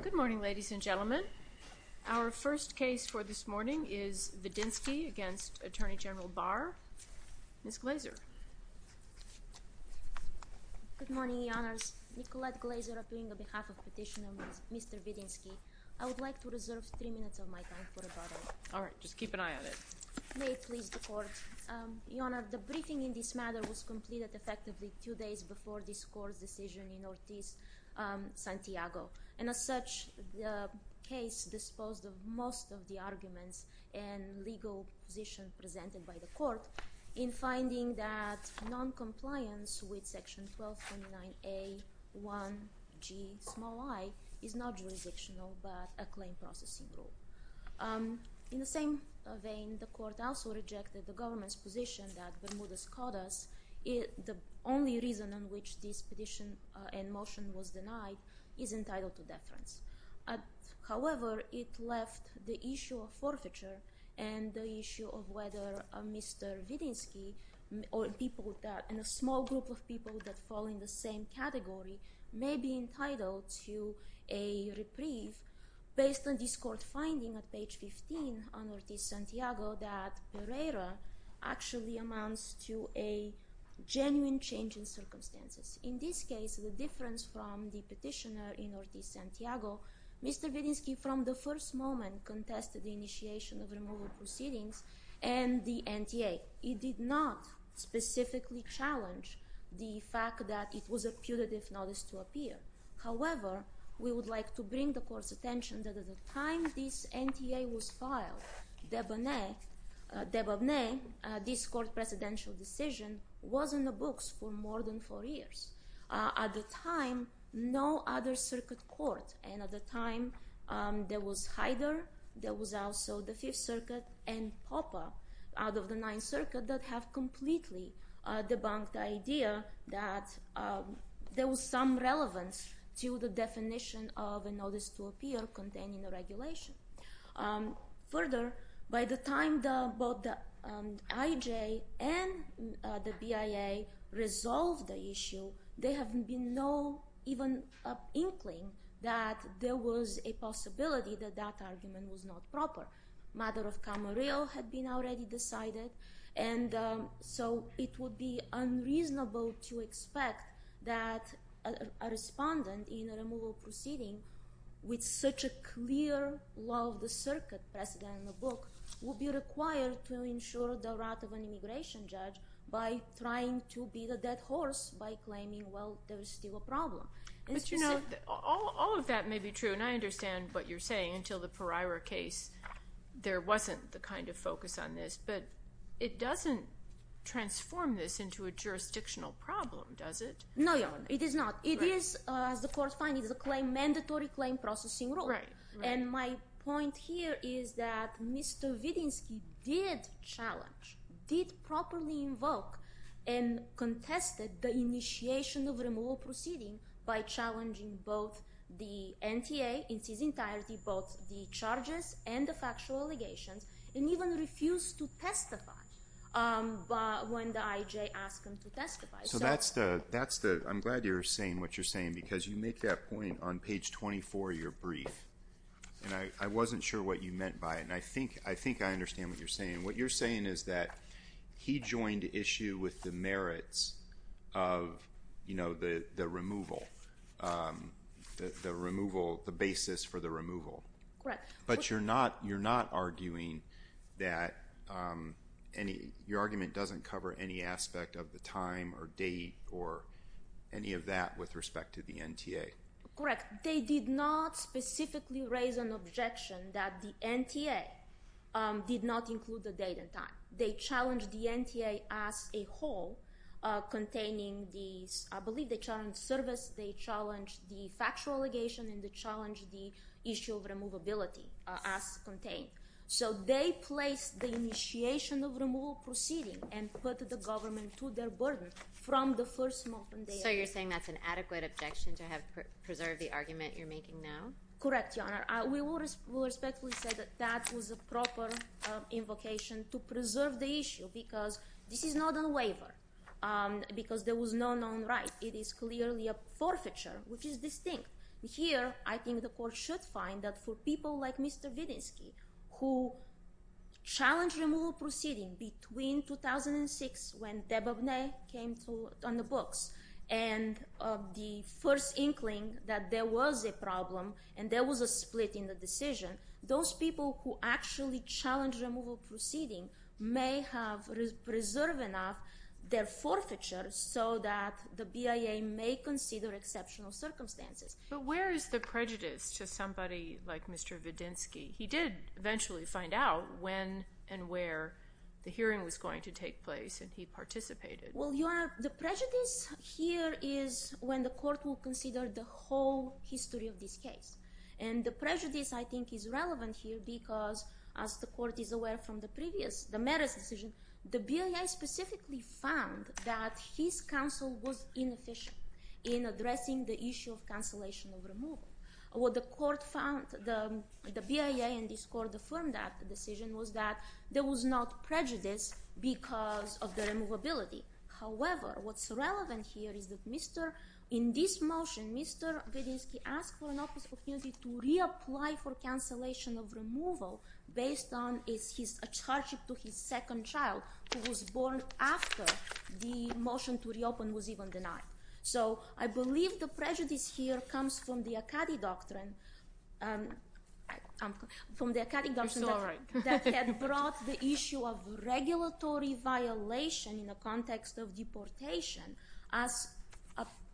Good morning, ladies and gentlemen. Our first case for this morning is Vidinski v. Attorney General Barr. Ms. Glazer. Good morning, Your Honors. Nicolette Glazer, appearing on behalf of Petitioner Mr. Vidinski. I would like to reserve three minutes of my time for rebuttal. All right. Just keep an eye on it. May it please the Court. Your Honor, the briefing in this matter was completed effectively two days before this Court's decision in Ortiz. Santiago. And as such, the case disposed of most of the arguments and legal position presented by the Court in finding that non-compliance with Section 1229A.1.g.i is not jurisdictional but a claim processing rule. In the same vein, the Court also rejected the government's position that Bermudez caught us. The only reason on which this petition and motion was denied is entitled to deference. However, it left the issue of forfeiture and the issue of whether Mr. Vidinski and a small group of people that fall in the same category may be entitled to a reprieve based on this Court finding at page 15 on Ortiz-Santiago that Pereira actually amounts to a genuine change in circumstances. In this case, the difference from the petitioner in Ortiz-Santiago, Mr. Vidinski from the first moment contested the initiation of removal proceedings and the NTA. It did not specifically challenge the fact that it was a putative notice to appear. However, we would like to bring the Court's attention that at the time this NTA was filed, Debabneh, this Court's presidential decision, was in the books for more than four years. At the time, no other circuit court, and at the time there was Haider, there was also the Fifth Circuit, and Popper out of the Ninth Circuit that have completely debunked the idea that there was some relevance to the definition of a notice to appear containing the regulation. Further, by the time both the IJ and the BIA resolved the issue, there had been no even inkling that there was a possibility that that argument was not proper. Mother of Camarillo had been already decided. And so it would be unreasonable to expect that a respondent in a removal proceeding with such a clear law of the circuit precedent in the book would be required to ensure the right of an immigration judge by trying to beat a dead horse by claiming, well, there is still a problem. But, you know, all of that may be true, and I understand what you're saying, until the Pereira case there wasn't the kind of focus on this. But it doesn't transform this into a jurisdictional problem, does it? No, it is not. It is, as the Court finds, it is a mandatory claim processing rule. And my point here is that Mr. Vidinsky did challenge, did properly invoke, and contested the initiation of removal proceeding by challenging both the NTA in its entirety, both the charges and the factual allegations, and even refused to testify when the IJ asked him to testify. So that's the, I'm glad you're saying what you're saying, because you make that point on page 24 of your brief, and I wasn't sure what you meant by it, and I think I understand what you're saying. What you're saying is that he joined issue with the merits of, you know, the removal, the removal, the basis for the removal. Correct. But you're not arguing that any, your argument doesn't cover any aspect of the time or date or any of that with respect to the NTA. Correct. They did not specifically raise an objection that the NTA did not include the date and time. They challenged the NTA as a whole, containing these, I believe they challenged service, they challenged the factual allegation, and they challenged the issue of removability as contained. So they placed the initiation of removal proceeding and put the government to their burden from the first moment they arrived. So you're saying that's an adequate objection to have preserved the argument you're making now? Correct, Your Honor. We will respectfully say that that was a proper invocation to preserve the issue, because this is not a waiver, because there was no known right. It is clearly a forfeiture, which is distinct. Here, I think the court should find that for people like Mr. Wiedenski, who challenged removal proceeding between 2006, when Dababneh came on the books, and the first inkling that there was a problem and there was a split in the decision, those people who actually challenged removal proceeding may have preserved enough their forfeiture so that the BIA may consider exceptional circumstances. But where is the prejudice to somebody like Mr. Wiedenski? He did eventually find out when and where the hearing was going to take place, and he participated. Well, Your Honor, the prejudice here is when the court will consider the whole history of this case. And the prejudice, I think, is relevant here because, as the court is aware from the previous, the merits decision, the BIA specifically found that his counsel was inefficient in addressing the issue of cancellation of removal. What the BIA and this court affirmed after the decision was that there was not prejudice because of the removability. However, what's relevant here is that in this motion, Mr. Wiedenski asked for an opportunity to reapply for cancellation of removal based on his attachment to his second child, who was born after the motion to reopen was even denied. So I believe the prejudice here comes from the Akkadi Doctrine that had brought the issue of regulatory violation in the context of deportation as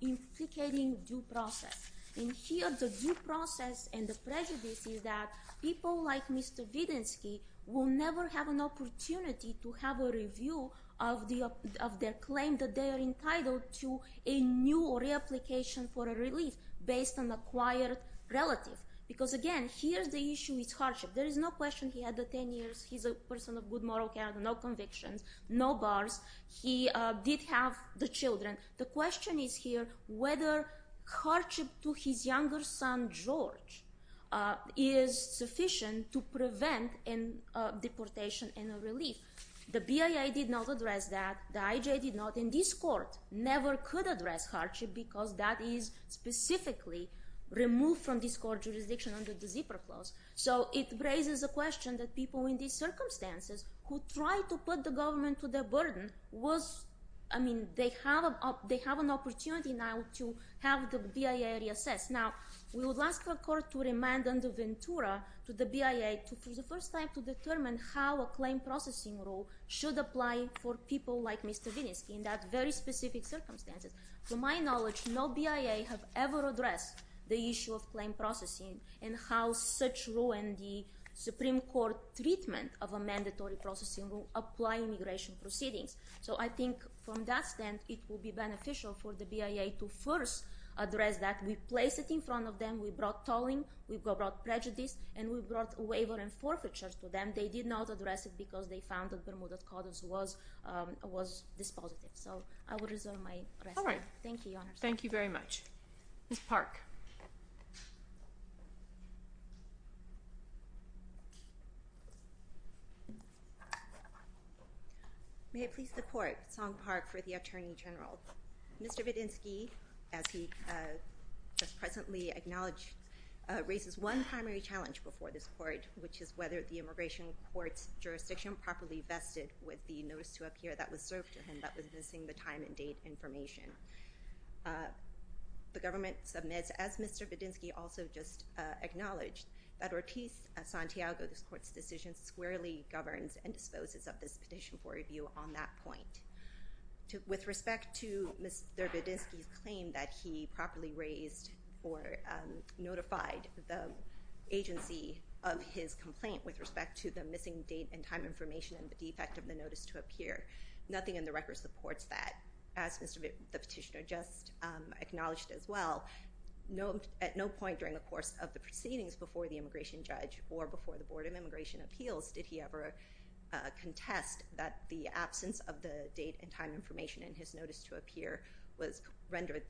implicating due process. And here, the due process and the prejudice is that people like Mr. Wiedenski will never have an opportunity to have a review of their claim that they are entitled to a new or reapplication for a relief based on acquired relative. Because again, here the issue is hardship. There is no question he had the 10 years. He's a person of good moral character, no convictions, no bars. He did have the children. The question is here whether hardship to his younger son, George, is sufficient to prevent a deportation and a relief. The BIA did not address that. The IJ did not. And this court never could address hardship because that is specifically removed from this court's jurisdiction under the zipper clause. So it raises a question that people in these circumstances who try to put the government to their burden, they have an opportunity now to have the BIA reassess. Now, we would ask the court to remand under Ventura to the BIA for the first time to determine how a claim processing rule should apply for people like Mr. Wiedenski in that very specific circumstances. To my knowledge, no BIA have ever addressed the issue of claim processing and how such rule and the Supreme Court treatment of a mandatory processing rule apply immigration proceedings. So I think from that stand, it will be beneficial for the BIA to first address that. We placed it in front of them. We brought tolling. We brought prejudice. And we brought waiver and forfeiture to them. They did not address it because they found that Bermuda Codders was dispositive. So I will reserve my rest. Thank you, Your Honor. All right. Thank you very much. Ms. Park. May it please the court, Song Park for the Attorney General. Mr. Wiedenski, as he just presently acknowledged, raises one primary challenge before this court, which is whether the immigration court's jurisdiction properly vested with the notice to appear that was served to him that was missing the time and date information. The government submits, as Mr. Wiedenski also just acknowledged, that Ortiz-Santiago, this court's decision squarely governs and disposes of this petition for review on that point. With respect to Mr. Wiedenski's claim that he properly raised or notified the agency of his complaint with respect to the missing date and time information and the defect of the notice to appear, nothing in the record supports that. As Mr. Wiedenski, the petitioner, just acknowledged as well, at no point during the course of the proceedings before the immigration judge or before the Board of Immigration Appeals did he ever contest that the absence of the date and time information in his notice to appear rendered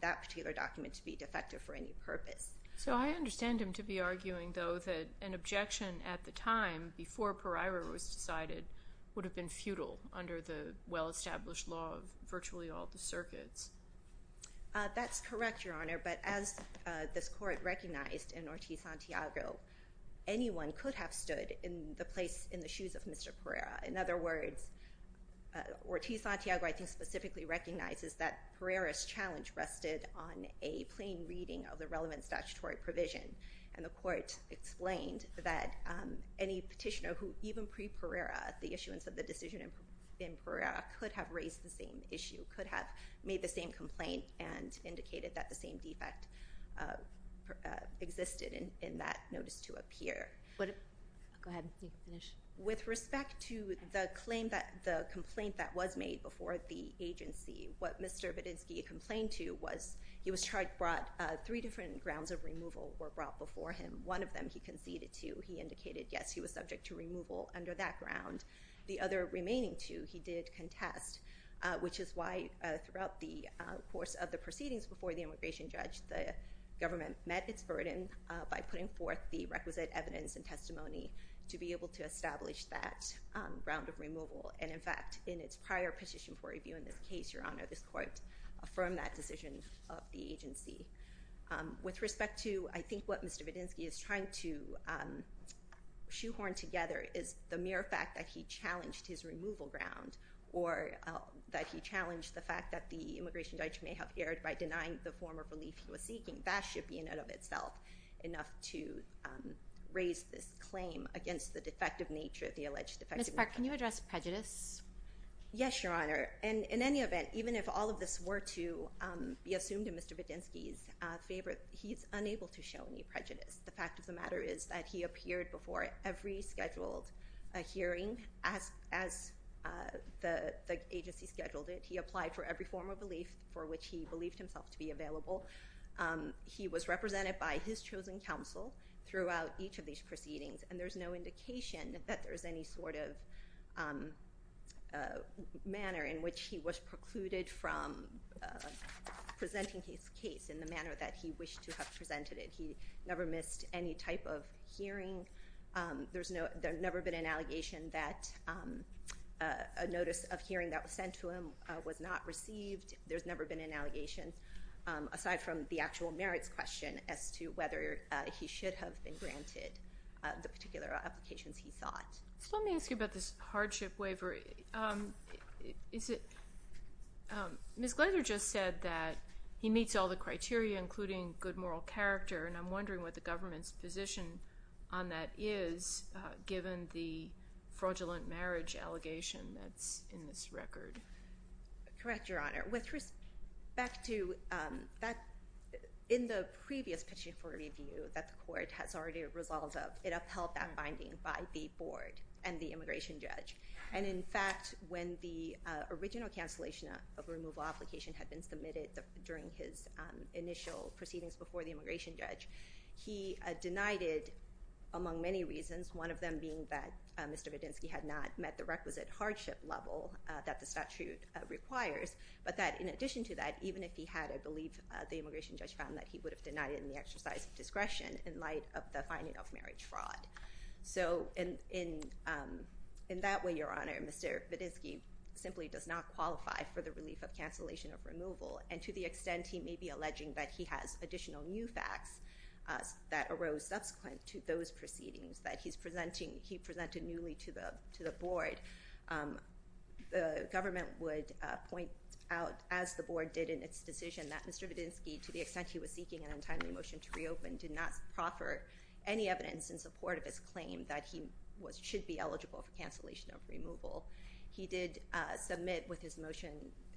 that particular document to be defective for any purpose. So I understand him to be arguing, though, that an objection at the time, before Pariro was decided, would have been futile under the well-established law of virtually all the circuits. That's correct, Your Honor, but as this court recognized in Ortiz-Santiago, anyone could have stood in the place, in the shoes of Mr. Pereira. In other words, Ortiz-Santiago, I think, specifically recognizes that Pereira's challenge rested on a plain reading of the relevant statutory provision, and the court explained that any petitioner who, even pre-Pereira, at the issuance of the decision in Pereira, could have raised the same issue, could have made the same complaint, and indicated that the same defect existed in that notice to appear. Go ahead. You can finish. With respect to the complaint that was made before the agency, what Mr. Bedinsky complained to was he was charged, brought, three different grounds of removal were brought before him. One of them he conceded to. He indicated, yes, he was subject to removal under that ground. The other remaining two he did contest, which is why, throughout the course of the proceedings before the immigration judge, the government met its burden by putting forth the requisite evidence and testimony to be able to establish that ground of removal. And, in fact, in its prior petition for review in this case, Your Honor, this court affirmed that decision of the agency. With respect to, I think, what Mr. Bedinsky is trying to shoehorn together is the mere fact that he challenged his removal ground or that he challenged the fact that the immigration judge may have erred by denying the form of relief he was seeking. That should be, in and of itself, enough to raise this claim against the defective nature, the alleged defective nature. Ms. Park, can you address prejudice? Yes, Your Honor. In any event, even if all of this were to be assumed in Mr. Bedinsky's favor, he's unable to show any prejudice. The fact of the matter is that he appeared before every scheduled hearing as the agency scheduled it. He applied for every form of relief for which he believed himself to be available. He was represented by his chosen counsel throughout each of these proceedings, and there's no indication that there's any sort of manner in which he was precluded from presenting his case in the manner that he wished to have presented it. He never missed any type of hearing. There's never been an allegation that a notice of hearing that was sent to him was not received. There's never been an allegation, aside from the actual merits question, as to whether he should have been granted the particular applications he sought. Let me ask you about this hardship waiver. Ms. Glaser just said that he meets all the criteria, including good moral character, and I'm wondering what the government's position on that is, given the fraudulent marriage allegation that's in this record. Correct, Your Honor. With respect to that, in the previous petition for review that the court has already resolved, it upheld that finding by the board and the immigration judge. And, in fact, when the original cancellation of a removal application had been submitted during his initial proceedings before the immigration judge, he denied it among many reasons, one of them being that Mr. Vadinsky had not met the requisite hardship level that the statute requires, but that in addition to that, even if he had, I believe the immigration judge found that he would have denied it in the exercise of discretion in light of the finding of marriage fraud. So in that way, Your Honor, Mr. Vadinsky simply does not qualify for the relief of cancellation of removal, and to the extent he may be alleging that he has additional new facts that arose subsequent to those proceedings that he presented newly to the board, the government would point out, as the board did in its decision, that Mr. Vadinsky, to the extent he was seeking an untimely motion to reopen, did not proffer any evidence in support of his claim that he should be eligible for cancellation of removal. He did submit with his motion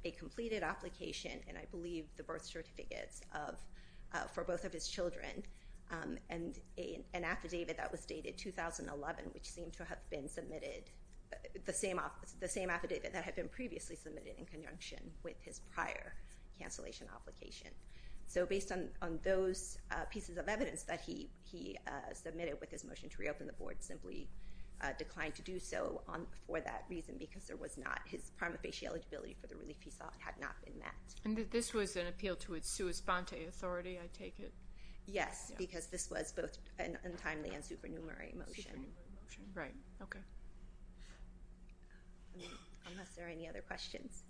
a completed application, and I believe the birth certificates for both of his children, and an affidavit that was dated 2011, which seemed to have been submitted, the same affidavit that had been previously submitted in conjunction with his prior cancellation application. So based on those pieces of evidence that he submitted with his motion to reopen the board, simply declined to do so for that reason because there was not, his prima facie eligibility for the relief he sought had not been met. And this was an appeal to its sua sponte authority, I take it? Yes, because this was both an untimely and supernumerary motion. Supernumerary motion, right, okay. Unless there are any other questions.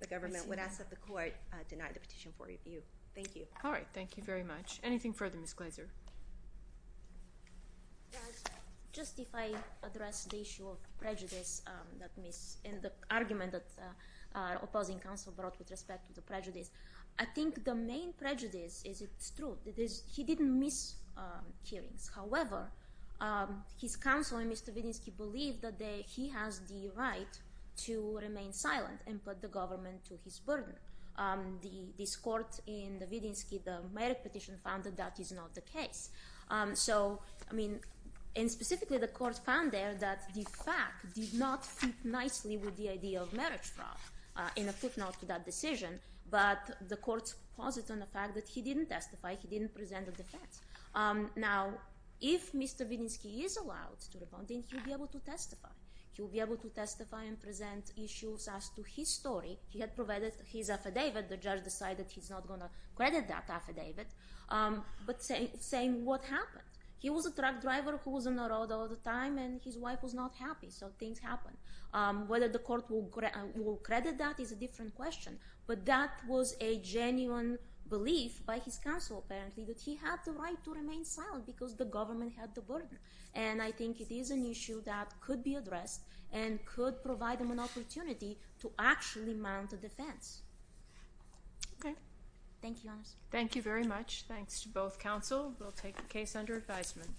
The government would ask that the court deny the petition for review. Thank you. All right, thank you very much. Anything further, Ms. Glazer? Just if I address the issue of prejudice, and the argument that opposing counsel brought with respect to the prejudice, I think the main prejudice is it's true. He didn't miss hearings. However, his counsel and Mr. Vadinsky believe that he has the right to remain silent and put the government to his burden. This court in the Vadinsky, the merit petition found that that is not the case. So, I mean, and specifically the court found there that the fact did not fit nicely with the idea of marriage fraud in a footnote to that decision, but the court's posit on the fact that he didn't testify, he didn't present a defense. Now, if Mr. Vadinsky is allowed to respond, then he will be able to testify. He will be able to testify and present issues as to his story. He had provided his affidavit. The judge decided he's not going to credit that affidavit, but saying what happened. He was a truck driver who was on the road all the time, and his wife was not happy, so things happened. Whether the court will credit that is a different question, but that was a genuine belief by his counsel, apparently, that he had the right to remain silent because the government had the burden. And I think it is an issue that could be addressed and could provide him an opportunity to actually mount a defense. Thank you, Your Honor. Thank you very much. Thanks to both counsel. We'll take the case under advisement.